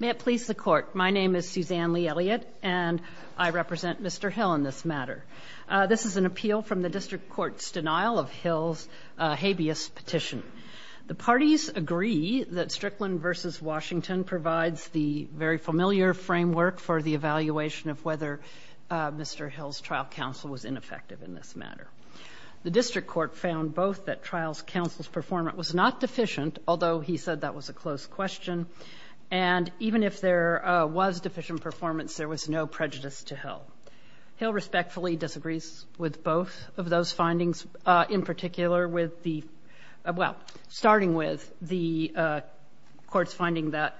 May it please the Court, my name is Suzanne Lee Elliott, and I represent Mr. Hill in this matter. This is an appeal from the District Court's denial of Hill's habeas petition. The parties agree that Strickland v. Washington provides the very familiar framework for the evaluation of whether Mr. Hill's trial counsel was ineffective in this matter. The District Court found both that trial counsel's performance was not deficient, although he said that was a close question, and even if there was deficient performance, there was no prejudice to Hill. Hill respectfully disagrees with both of those findings, in particular with the, well, starting with the Court's finding that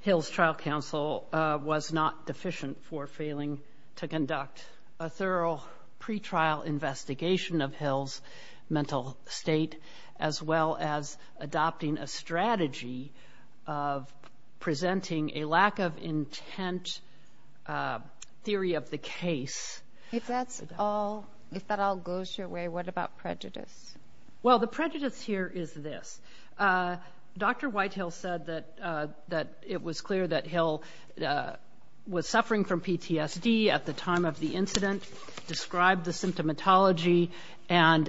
Hill's trial counsel was not deficient for failing to conduct a thorough pretrial investigation of Hill's mental state, as well as adopting a strategy of presenting a lack of intent theory of the case. If that's all, if that all goes your way, what about prejudice? Well, the prejudice here is this, Dr. Whitehill said that it was clear that Hill was suffering from PTSD at the time of the incident, described the symptomatology, and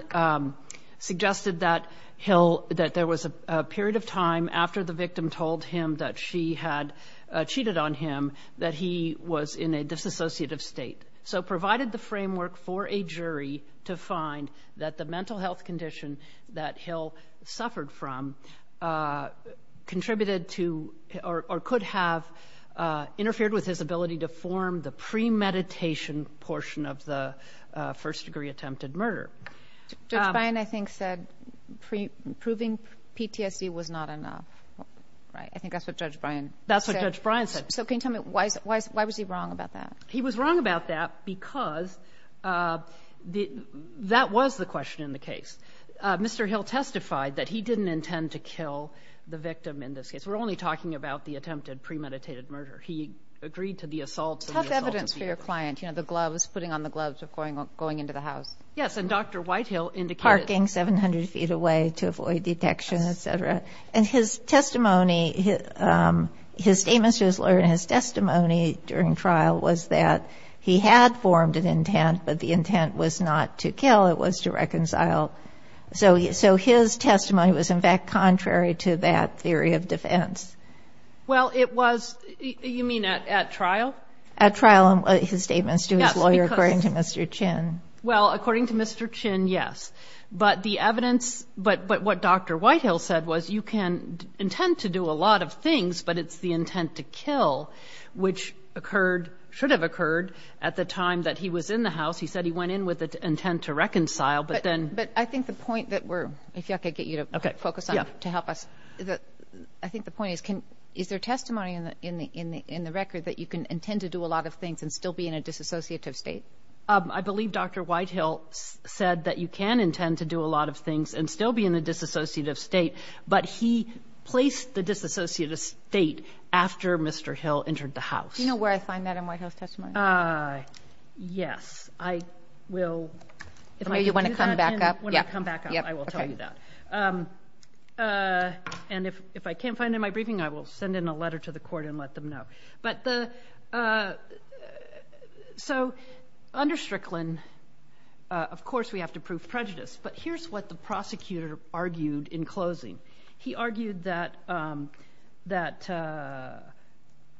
suggested that Hill, that there was a period of time after the victim told him that she had cheated on him that he was in a disassociative state. So provided the framework for a jury to find that the mental health condition that Hill suffered from contributed to, or could have, interfered with his ability to form the premeditation portion of the first-degree attempted murder. Judge Bryan, I think, said proving PTSD was not enough, right? I think that's what Judge Bryan said. That's what Judge Bryan said. So can you tell me, why was he wrong about that? He was wrong about that because that was the question in the case. Mr. Hill testified that he didn't intend to kill the victim in this case. We're only talking about the attempted premeditated murder. He agreed to the assault. Tough evidence for your client, you know, the gloves, putting on the gloves of going into the house. Yes, and Dr. Whitehill indicated- Parking 700 feet away to avoid detection, etc. And his testimony, his statements to his lawyer and his testimony during trial was that he had formed an intent, but the intent was not to kill, it was to reconcile. So his testimony was, in fact, contrary to that theory of defense. Well, it was, you mean at trial? At trial, his statements to his lawyer, according to Mr. Chin. Well, according to Mr. Chin, yes. But the evidence, but what Dr. Whitehill said was you can intend to do a lot of things, but it's the intent to kill, which occurred, should have occurred at the time that he was in the house. He said he went in with the intent to reconcile, but then- But I think the point that we're, if I could get you to focus on, to help us. I think the point is, is there testimony in the record that you can intend to do a lot of things and still be in a disassociative state? I believe Dr. Whitehill said that you can intend to do a lot of things and still be in a disassociative state, but he placed the disassociative state after Mr. Hill entered the house. Do you know where I find that in Whitehill's testimony? Ah, yes. I will, if I could do that- Maybe you want to come back up? When I come back up, I will tell you that. And if I can't find it in my briefing, I will send in a letter to the court and let them know. But the, so under Strickland, of course, we have to prove prejudice, but here's what the prosecutor argued in closing. He argued that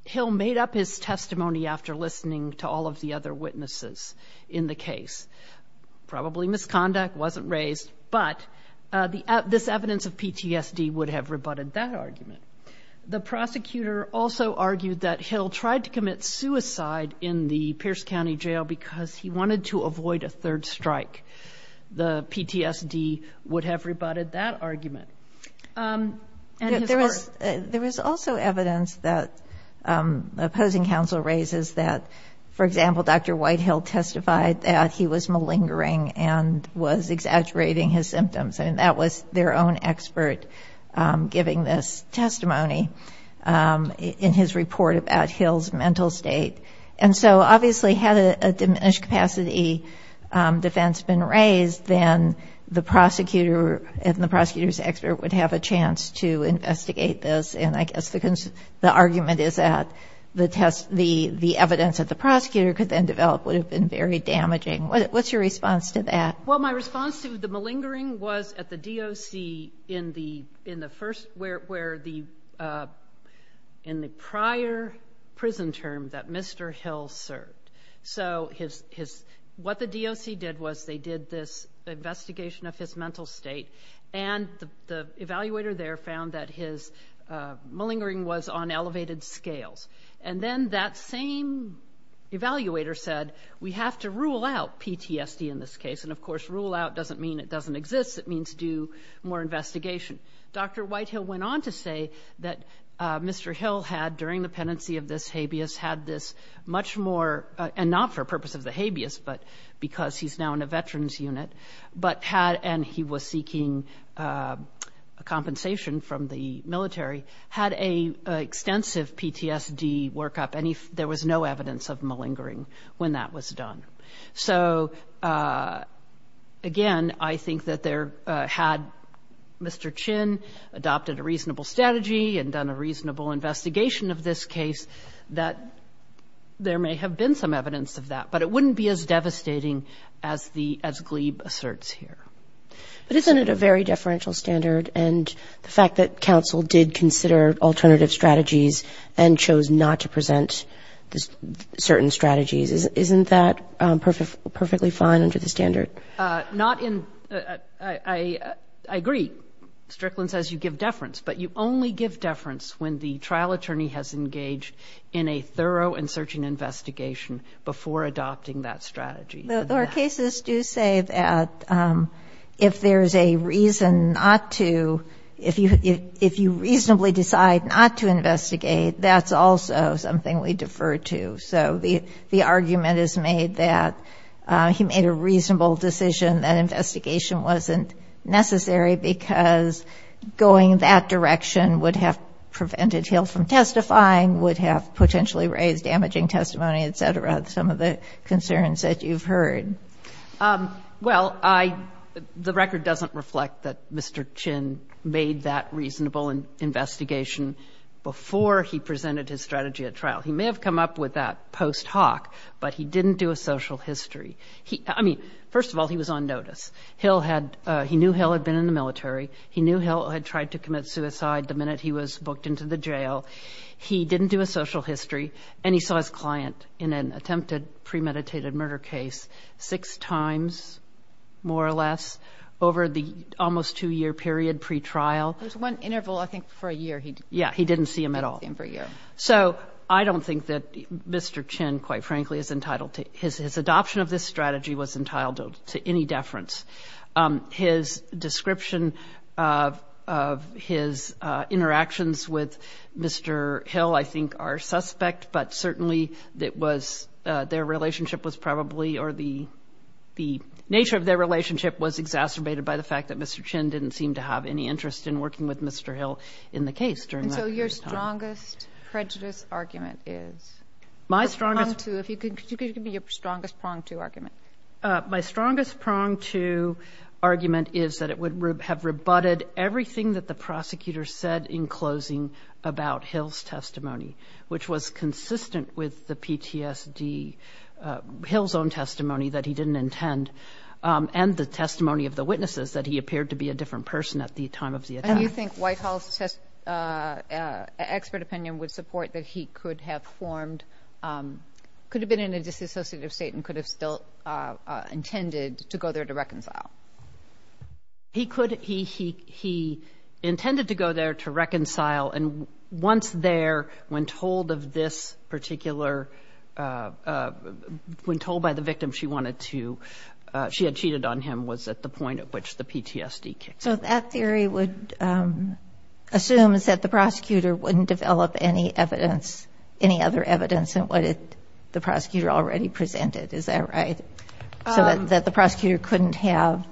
Hill made up his testimony after listening to all of the other witnesses in the case. Probably misconduct, wasn't raised, but this evidence of PTSD would have rebutted that argument. The prosecutor also argued that Hill tried to commit suicide in the Pierce County Jail because he wanted to avoid a third strike. The PTSD would have rebutted that argument. There was also evidence that the opposing counsel raises that, for example, Dr. Whitehill testified that he was malingering and was exaggerating his symptoms. I mean, that was their own expert giving this testimony in his report about Hill's mental state. And so obviously had a diminished capacity defense been raised, then the prosecutor and the prosecutor's expert would have a chance to investigate this. And I guess the argument is that the test, the evidence that the prosecutor could then develop would have been very damaging. What's your response to that? Well, my response to the malingering was at the DOC in the first, where the, in the prior prison term that Mr. Hill served. So his, what the DOC did was they did this investigation of his mental state and the evaluator there found that his malingering was on elevated scales. And then that same evaluator said, we have to rule out PTSD in this case. And of course, rule out doesn't mean it doesn't exist. It means do more investigation. Dr. Whitehill went on to say that Mr. Hill had, during the pendency of this habeas, had this much more, and not for purpose of the habeas, but because he's now in a veterans unit, but had, and he was seeking a compensation from the military, had a extensive PTSD workup and there was no evidence of malingering when that was done. So again, I think that there had Mr. Chin adopted a reasonable strategy and done a reasonable investigation of this case, that there may have been some evidence of that, but it wouldn't be as devastating as the, as Glebe asserts here. But isn't it a very deferential standard? And the fact that counsel did consider alternative strategies and chose not to present certain strategies, isn't that perfectly fine under the standard? Not in, I agree, Strickland says you give deference, but you only give deference when the trial attorney has engaged in a thorough and searching investigation before adopting that strategy. Our cases do say that if there's a reason not to, if you reasonably decide not to investigate, that's also something we defer to. So the argument is made that he made a reasonable decision that investigation wasn't necessary because going that direction would have prevented Hill from testifying, would have potentially raised damaging testimony, et cetera, some of the concerns that you've heard. Well, I, the record doesn't reflect that Mr. Chin made that reasonable investigation before he presented his strategy at trial. He may have come up with that post hoc, but he didn't do a social history. He, I mean, first of all, he was on notice. Hill had, he knew Hill had been in the military. He knew Hill had tried to commit suicide the minute he was booked into the jail. He didn't do a social history and he saw his client in an attempted premeditated murder case six times more or less over the almost two year period pre-trial. There's one interval, I think for a year he did. Yeah, he didn't see him at all. He didn't see him for a year. So I don't think that Mr. Chin, quite frankly, is entitled to his, his adoption of this strategy was entitled to any deference. His description of, of his interactions with Mr. Hill, I think are suspect, but certainly that was, their relationship was probably, or the, the nature of their relationship was exacerbated by the fact that Mr. Chin didn't seem to have any interest in working with Mr. Hill in the case during that time. And so your strongest prejudice argument is? My strongest... The prong to, if you could give me your strongest prong to argument. My strongest prong to argument is that it would have rebutted everything that the prosecutor said in closing about Hill's testimony, which was consistent with the PTSD, Hill's own testimony that he didn't intend, and the testimony of the witnesses that he appeared to be a different person at the time of the attack. And you think Whitehall's test, expert opinion would support that he could have formed, could have been in a disassociative state and could have still intended to go there to reconcile. He could, he, he, he intended to go there to reconcile and once there, when told of this particular, when told by the victim she wanted to, she had cheated on him, was at the point at which the PTSD kicked in. So that theory would assume is that the prosecutor wouldn't develop any evidence, any other evidence than what the prosecutor already presented. Is that right? So that the prosecutor couldn't have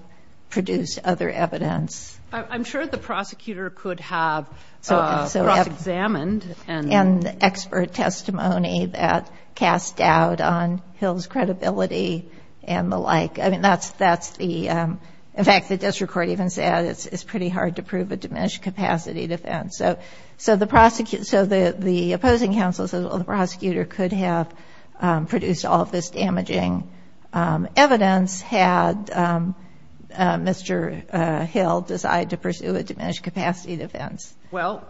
produced other evidence. I'm sure the prosecutor could have cross-examined and... And expert testimony that cast doubt on Hill's credibility and the like. I mean, that's, that's the, in fact, the district court even said it's pretty hard to prove a diminished capacity defense. So the prosecutor, so the opposing counsel says, well, the prosecutor could have produced all of this damaging evidence had Mr. Hill decide to pursue a diminished capacity defense. Well,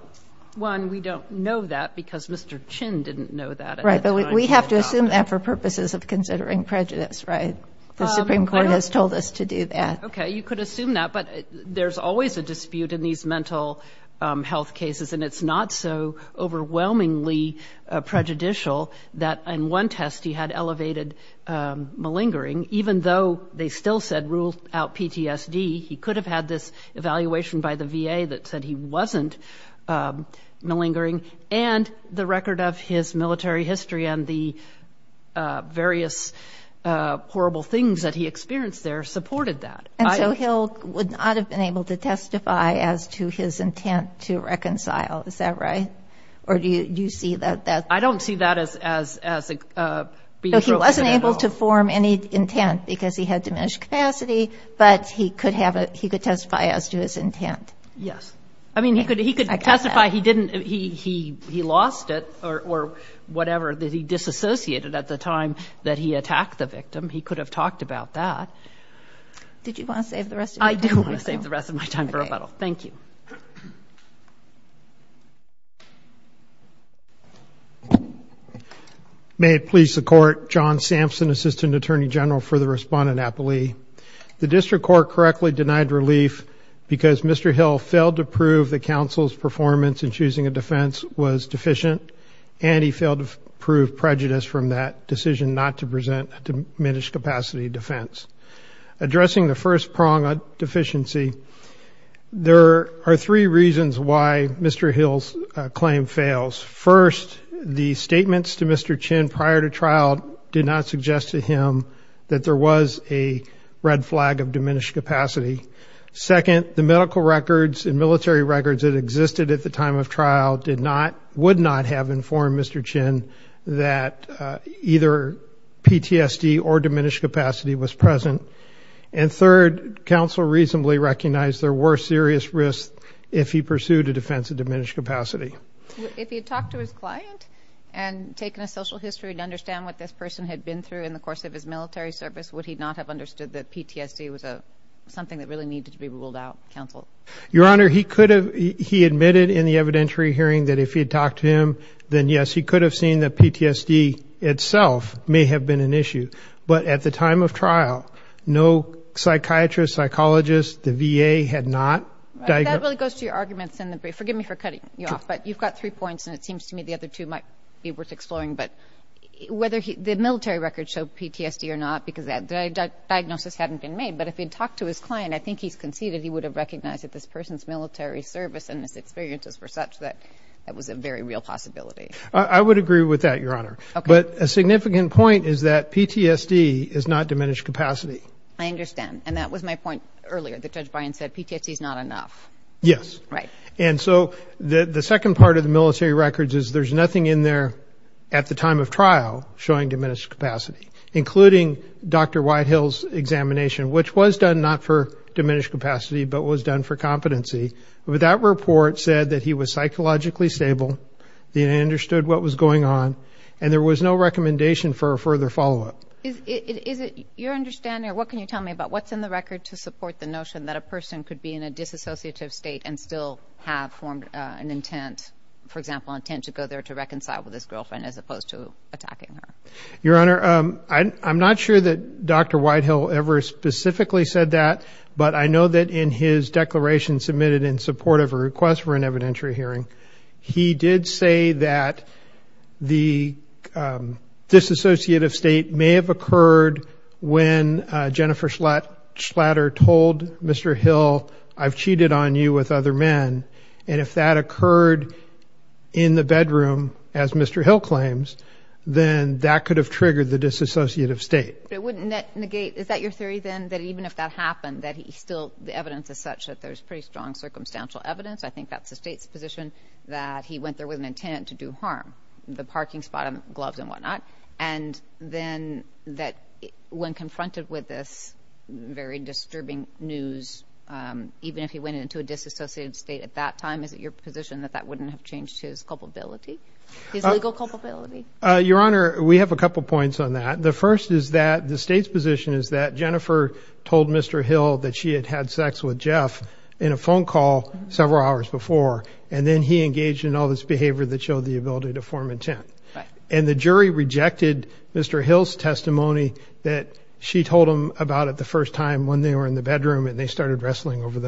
one, we don't know that because Mr. Chin didn't know that. Right. But we have to assume that for purposes of considering prejudice, right? The Supreme Court has told us to do that. You could assume that, but there's always a dispute in these mental health cases. And it's not so overwhelmingly prejudicial that in one test he had elevated malingering, even though they still said ruled out PTSD. He could have had this evaluation by the VA that said he wasn't malingering. And the record of his military history and the various horrible things that he experienced there supported that. And so Hill would not have been able to testify as to his intent to reconcile. Is that right? Or do you see that? I don't see that as being broken at all. So he wasn't able to form any intent because he had diminished capacity, but he could have, he could testify as to his intent. Yes. I mean, he could, he could testify he didn't, he lost it or whatever that he disassociated at the time that he attacked the victim. He could have talked about that. Did you want to save the rest of your time? I do want to save the rest of my time for rebuttal. Thank you. May it please the court. John Sampson, assistant attorney general for the respondent appellee. The district court correctly denied relief because Mr. Hill failed to prove the counsel's performance in choosing a defense was deficient and he failed to prove prejudice from that decision not to present a diminished capacity defense. Addressing the first prong of deficiency. There are three reasons why Mr. Hill's claim fails. First, the statements to Mr. Chin prior to trial did not suggest to him that there was a red flag of diminished capacity. Second, the medical records and military records that existed at the time of trial would not have informed Mr. Chin that either PTSD or diminished capacity was present. And third, counsel reasonably recognized there were serious risks if he pursued a defense of diminished capacity. If he had talked to his client and taken a social history to understand what this person had been through in the course of his military service, would he not have understood that Your Honor, he admitted in the evidentiary hearing that if he had talked to him, then yes, he could have seen that PTSD itself may have been an issue. But at the time of trial, no psychiatrist, psychologist, the VA had not. That really goes to your arguments in the brief. Forgive me for cutting you off, but you've got three points and it seems to me the other two might be worth exploring. But whether the military records show PTSD or not, because that diagnosis hadn't been made, but if he'd talked to his client, I think he's conceded he would have recognized that this person's military service and his experiences were such that that was a very real possibility. I would agree with that, Your Honor. But a significant point is that PTSD is not diminished capacity. I understand. And that was my point earlier. The judge Brian said PTSD is not enough. Yes. Right. And so the second part of the military records is there's nothing in there at the time of trial showing diminished capacity, including Dr. Whitehill's examination, which was done not for diminished capacity, but was done for competency. But that report said that he was psychologically stable, understood what was going on, and there was no recommendation for a further follow-up. Is it your understanding or what can you tell me about what's in the record to support the notion that a person could be in a disassociative state and still have formed an intent, for example, intent to go there to reconcile with his girlfriend as opposed to attacking her? Your Honor, I'm not sure that Dr. Whitehill ever specifically said that, but I know that in his declaration submitted in support of a request for an evidentiary hearing, he did say that the disassociative state may have occurred when Jennifer Schlatter told Mr. Hill, I've cheated on you with other men. And if that occurred in the bedroom, as Mr. Hill claims, then that could have triggered the disassociative state. But it wouldn't negate, is that your theory then, that even if that happened, that he still, the evidence is such that there's pretty strong circumstantial evidence. I think that's the state's position that he went there with an intent to do harm, the parking spot and gloves and whatnot. And then that when confronted with this very disturbing news, even if he went into a disassociative state at that time, is it your position that that wouldn't have changed his culpability, his legal culpability? Your Honor, we have a couple of points on that. The first is that the state's position is that Jennifer told Mr. Hill that she had had sex with Jeff in a phone call several hours before, and then he engaged in all this behavior that showed the ability to form intent. And the jury rejected Mr. Hill's testimony that she told him about it first time when they were in the bedroom and they started wrestling over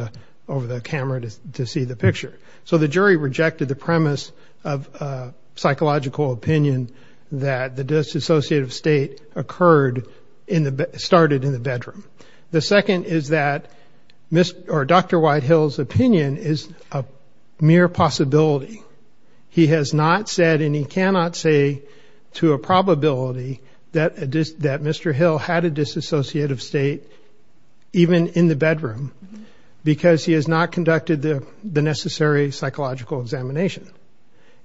the camera to see the picture. So the jury rejected the premise of a psychological opinion that the disassociative state occurred in the, started in the bedroom. The second is that Dr. White Hill's opinion is a mere possibility. He has not said, and he cannot say to a probability that Mr. Hill had a disassociative state even in the bedroom because he has not conducted the necessary psychological examination.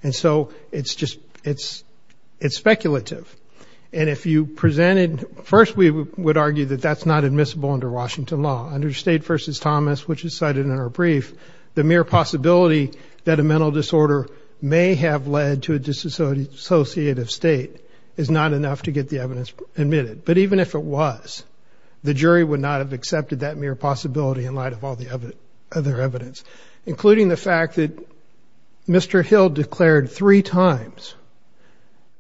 And so it's just, it's, it's speculative. And if you presented, first we would argue that that's not admissible under Washington law. Under State v. Thomas, which is cited in our brief, the mere possibility that a mental disorder may have led to a disassociative state is not enough to get the evidence admitted. But even if it was, the jury would not have accepted that mere possibility in light of all the other evidence, including the fact that Mr. Hill declared three times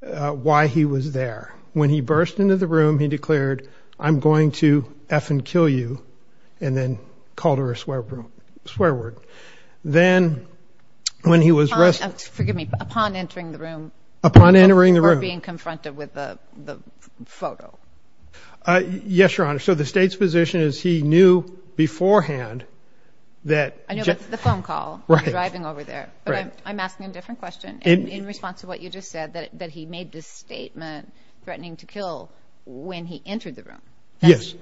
why he was there. When he burst into the room, he declared, I'm going to effing kill you, and then called her a swear word. Then when he was resting... Forgive me, upon entering the room... Upon entering the room... Or being confronted with the photo. Yes, Your Honor. So the State's position is he knew beforehand that... I know that's the phone call, driving over there. But I'm asking a different question in response to what you just said, that he made this statement threatening to kill when he entered the room. Yes.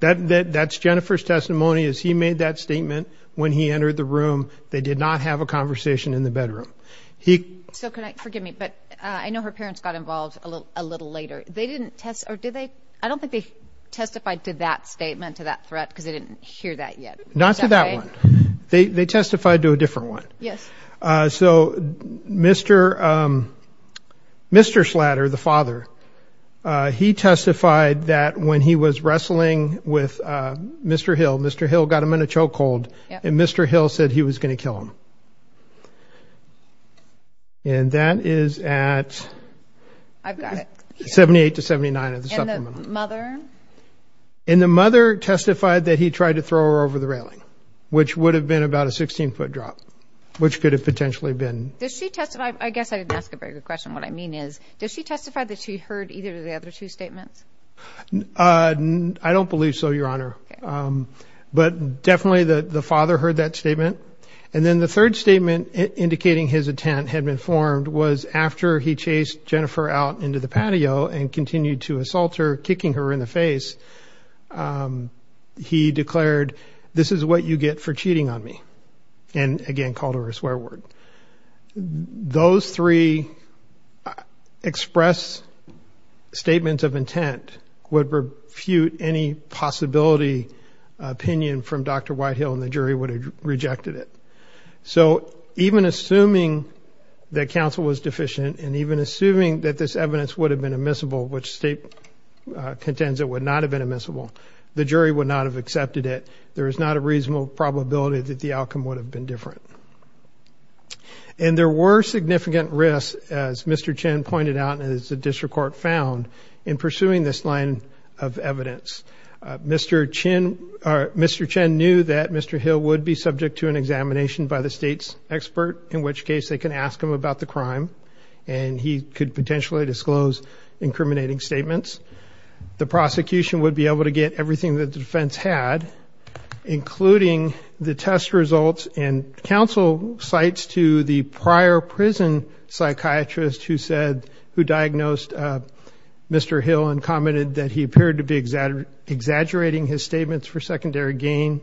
That's Jennifer's testimony is he made that statement when he entered the room. They did not have a conversation in the bedroom. He... So can I, forgive me, but I know her parents got involved a little later. They didn't test, or did they? I don't think they testified to that statement, to that threat, because they didn't hear that yet. Is that right? Not to that one. They testified to a different one. Yes. So Mr. Schlatter, the father, he testified that when he was wrestling with Mr. Hill, Mr. Hill got him in a choke hold, and Mr. Hill said he was going to kill him. Yes. And that is at... I've got it. 78 to 79 of the supplemental. And the mother? And the mother testified that he tried to throw her over the railing, which would have been about a 16-foot drop, which could have potentially been... Does she testify? I guess I didn't ask a very good question. What I mean is, does she testify that she heard either of the other two statements? I don't believe so, Your Honor. But definitely the father heard that statement. And then the third statement indicating his intent had been formed was after he chased Jennifer out into the patio and continued to assault her, kicking her in the face, he declared, this is what you get for cheating on me. And again, called her a swear word. Those three express statements of intent would refute any possibility opinion from Dr. Whitehill, and the jury would have rejected it. So even assuming that counsel was deficient, and even assuming that this evidence would have been admissible, which state contends it would not have been admissible, the jury would not have accepted it. There is not a reasonable probability that the outcome would have been different. And there were significant risks, as Mr. Chin pointed out, and as the district court found in pursuing this line of evidence. Mr. Chin, or Mr. Chin knew that Mr. Hill would be subject to an examination by the state's expert, in which case they can ask him about the crime. And he could potentially disclose incriminating statements. The prosecution would be able to get everything that the defense had, including the test results and counsel sites to the prior prison psychiatrist who said, who diagnosed Mr. Hill and commented that he appeared to be exaggerating his statements for secondary gain,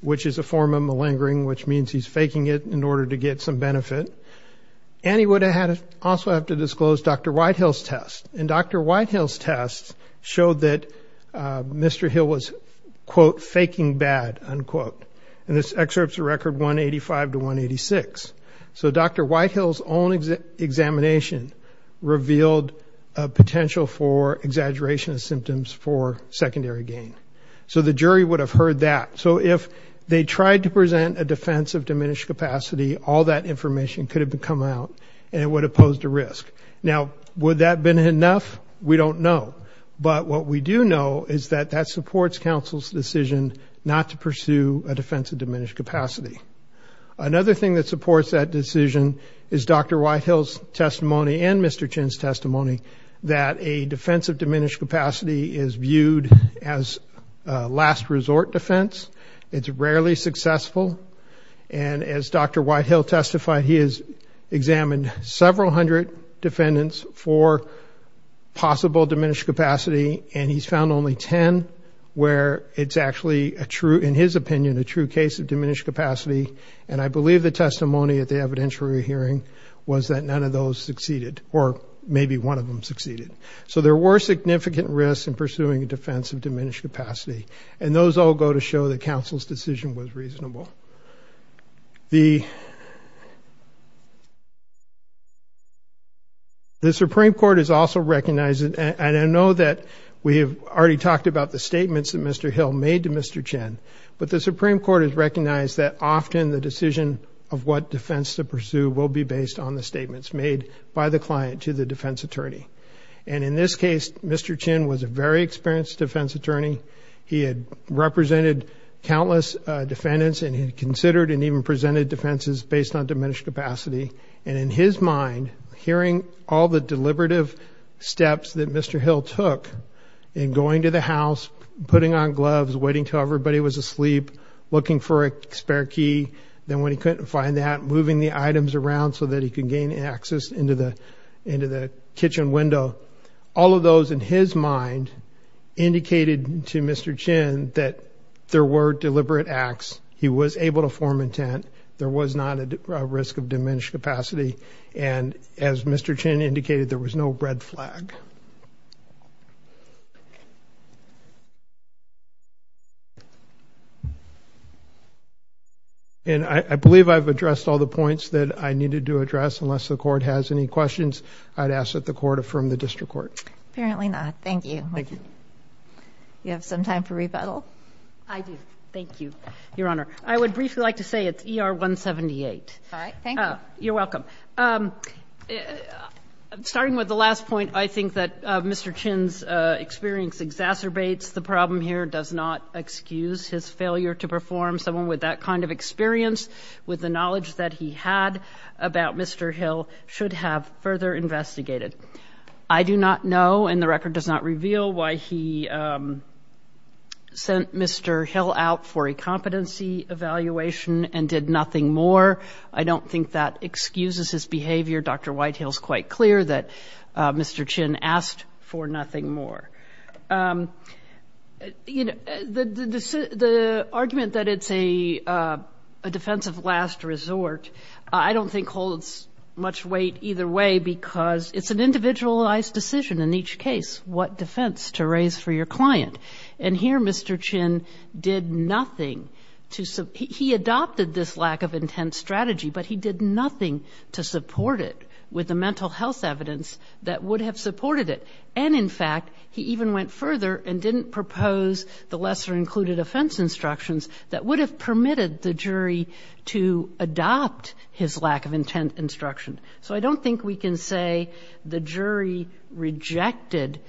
which is a form of malingering, which means he's faking it in order to get some benefit. And he would have also have to disclose Dr. Whitehill's test. And Dr. Whitehill's test showed that Mr. Hill was, quote, faking bad, unquote. And this Whitehill's own examination revealed a potential for exaggeration of symptoms for secondary gain. So the jury would have heard that. So if they tried to present a defense of diminished capacity, all that information could have come out and it would have posed a risk. Now, would that been enough? We don't know. But what we do know is that that supports counsel's decision not to pursue a defense of diminished capacity. Another thing that supports that decision is Dr. Whitehill's testimony and Mr. Chin's testimony that a defense of diminished capacity is viewed as a last resort defense. It's rarely successful. And as Dr. Whitehill testified, he has examined several hundred defendants for possible diminished capacity. And he's found only 10 where it's actually a true, in his opinion, a true case of diminished capacity. And I believe the testimony at the evidentiary hearing was that none of those succeeded or maybe one of them succeeded. So there were significant risks in pursuing a defense of diminished capacity. And those all go to show that counsel's decision was reasonable. The Supreme Court is also recognizing, and I know that we have already talked about the statements that Mr. Hill made to Mr. Chin, but the Supreme Court has recognized that often the decision of what defense to pursue will be based on the statements made by the client to the defense attorney. And in this case, Mr. Chin was a very experienced defense attorney. He had represented countless defendants and he considered and even presented defenses based on diminished capacity. And in his mind, hearing all the deliberative steps that Mr. Hill took in going to the house, putting on gloves, waiting till everybody was asleep, looking for a spare key. Then when he couldn't find that, moving the items around so that he could gain access into the kitchen window. All of those in his mind indicated to Mr. Chin that there were deliberate acts. He was able to form intent. There was not a risk of diminished capacity. And as Mr. Chin indicated, there was no red flag. And I believe I've addressed all the points that I needed to address unless the court has any questions. I'd ask that the court affirm the district court. Apparently not. Thank you. Thank you. You have some time for rebuttal. I do. Thank you, Your Honor. I would briefly like to say it's 178. All right. Thank you. You're welcome. Starting with the last point, I think that Mr. Chin's experience exacerbates the problem here, does not excuse his failure to perform. Someone with that kind of experience, with the knowledge that he had about Mr. Hill should have further investigated. I do not know, and the record does not reveal, why he sent Mr. Hill out for a nothing more. I don't think that excuses his behavior. Dr. Whitehill's quite clear that Mr. Chin asked for nothing more. The argument that it's a defensive last resort, I don't think holds much weight either way because it's an individualized decision in each case, what defense to raise for your client. And here Mr. Chin did nothing to, he adopted this lack of intent strategy, but he did nothing to support it with the mental health evidence that would have supported it. And in fact, he even went further and didn't propose the lesser included offense instructions that would have permitted the jury to adopt his lack of intent instruction. So I don't think we can say the jury rejected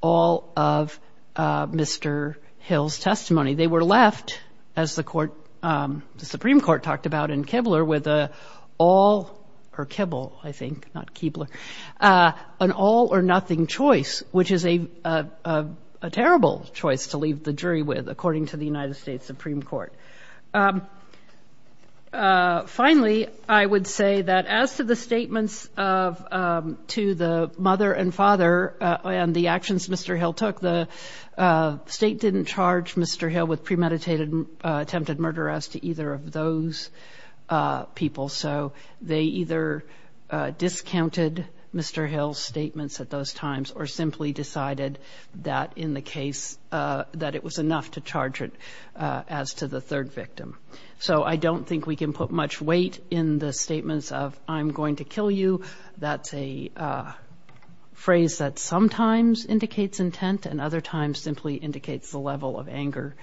all of Mr. Hill's testimony. They were left, as the Supreme Court talked about in Kibler, with an all or nothing choice, which is a terrible choice to leave the jury with, according to the United States Supreme Court. Finally, I would say that as to the to the mother and father and the actions Mr. Hill took, the state didn't charge Mr. Hill with premeditated attempted murder as to either of those people. So they either discounted Mr. Hill's statements at those times or simply decided that in the case that it was enough to charge it as to the third victim. So I don't think we can put much weight in the statements of I'm going to kill you, that's a phrase that sometimes indicates intent and other times simply indicates the level of anger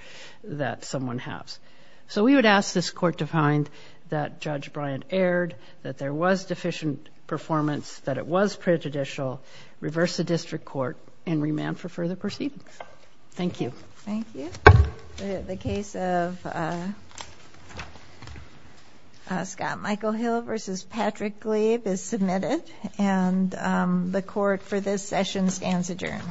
that someone has. So we would ask this court to find that Judge Bryant erred, that there was deficient performance, that it was prejudicial, reverse the district court and remand for further proceedings. Thank you. Thank you. The case of Scott Michael Hill versus Patrick Glabe is admitted and the court for this session stands adjourned.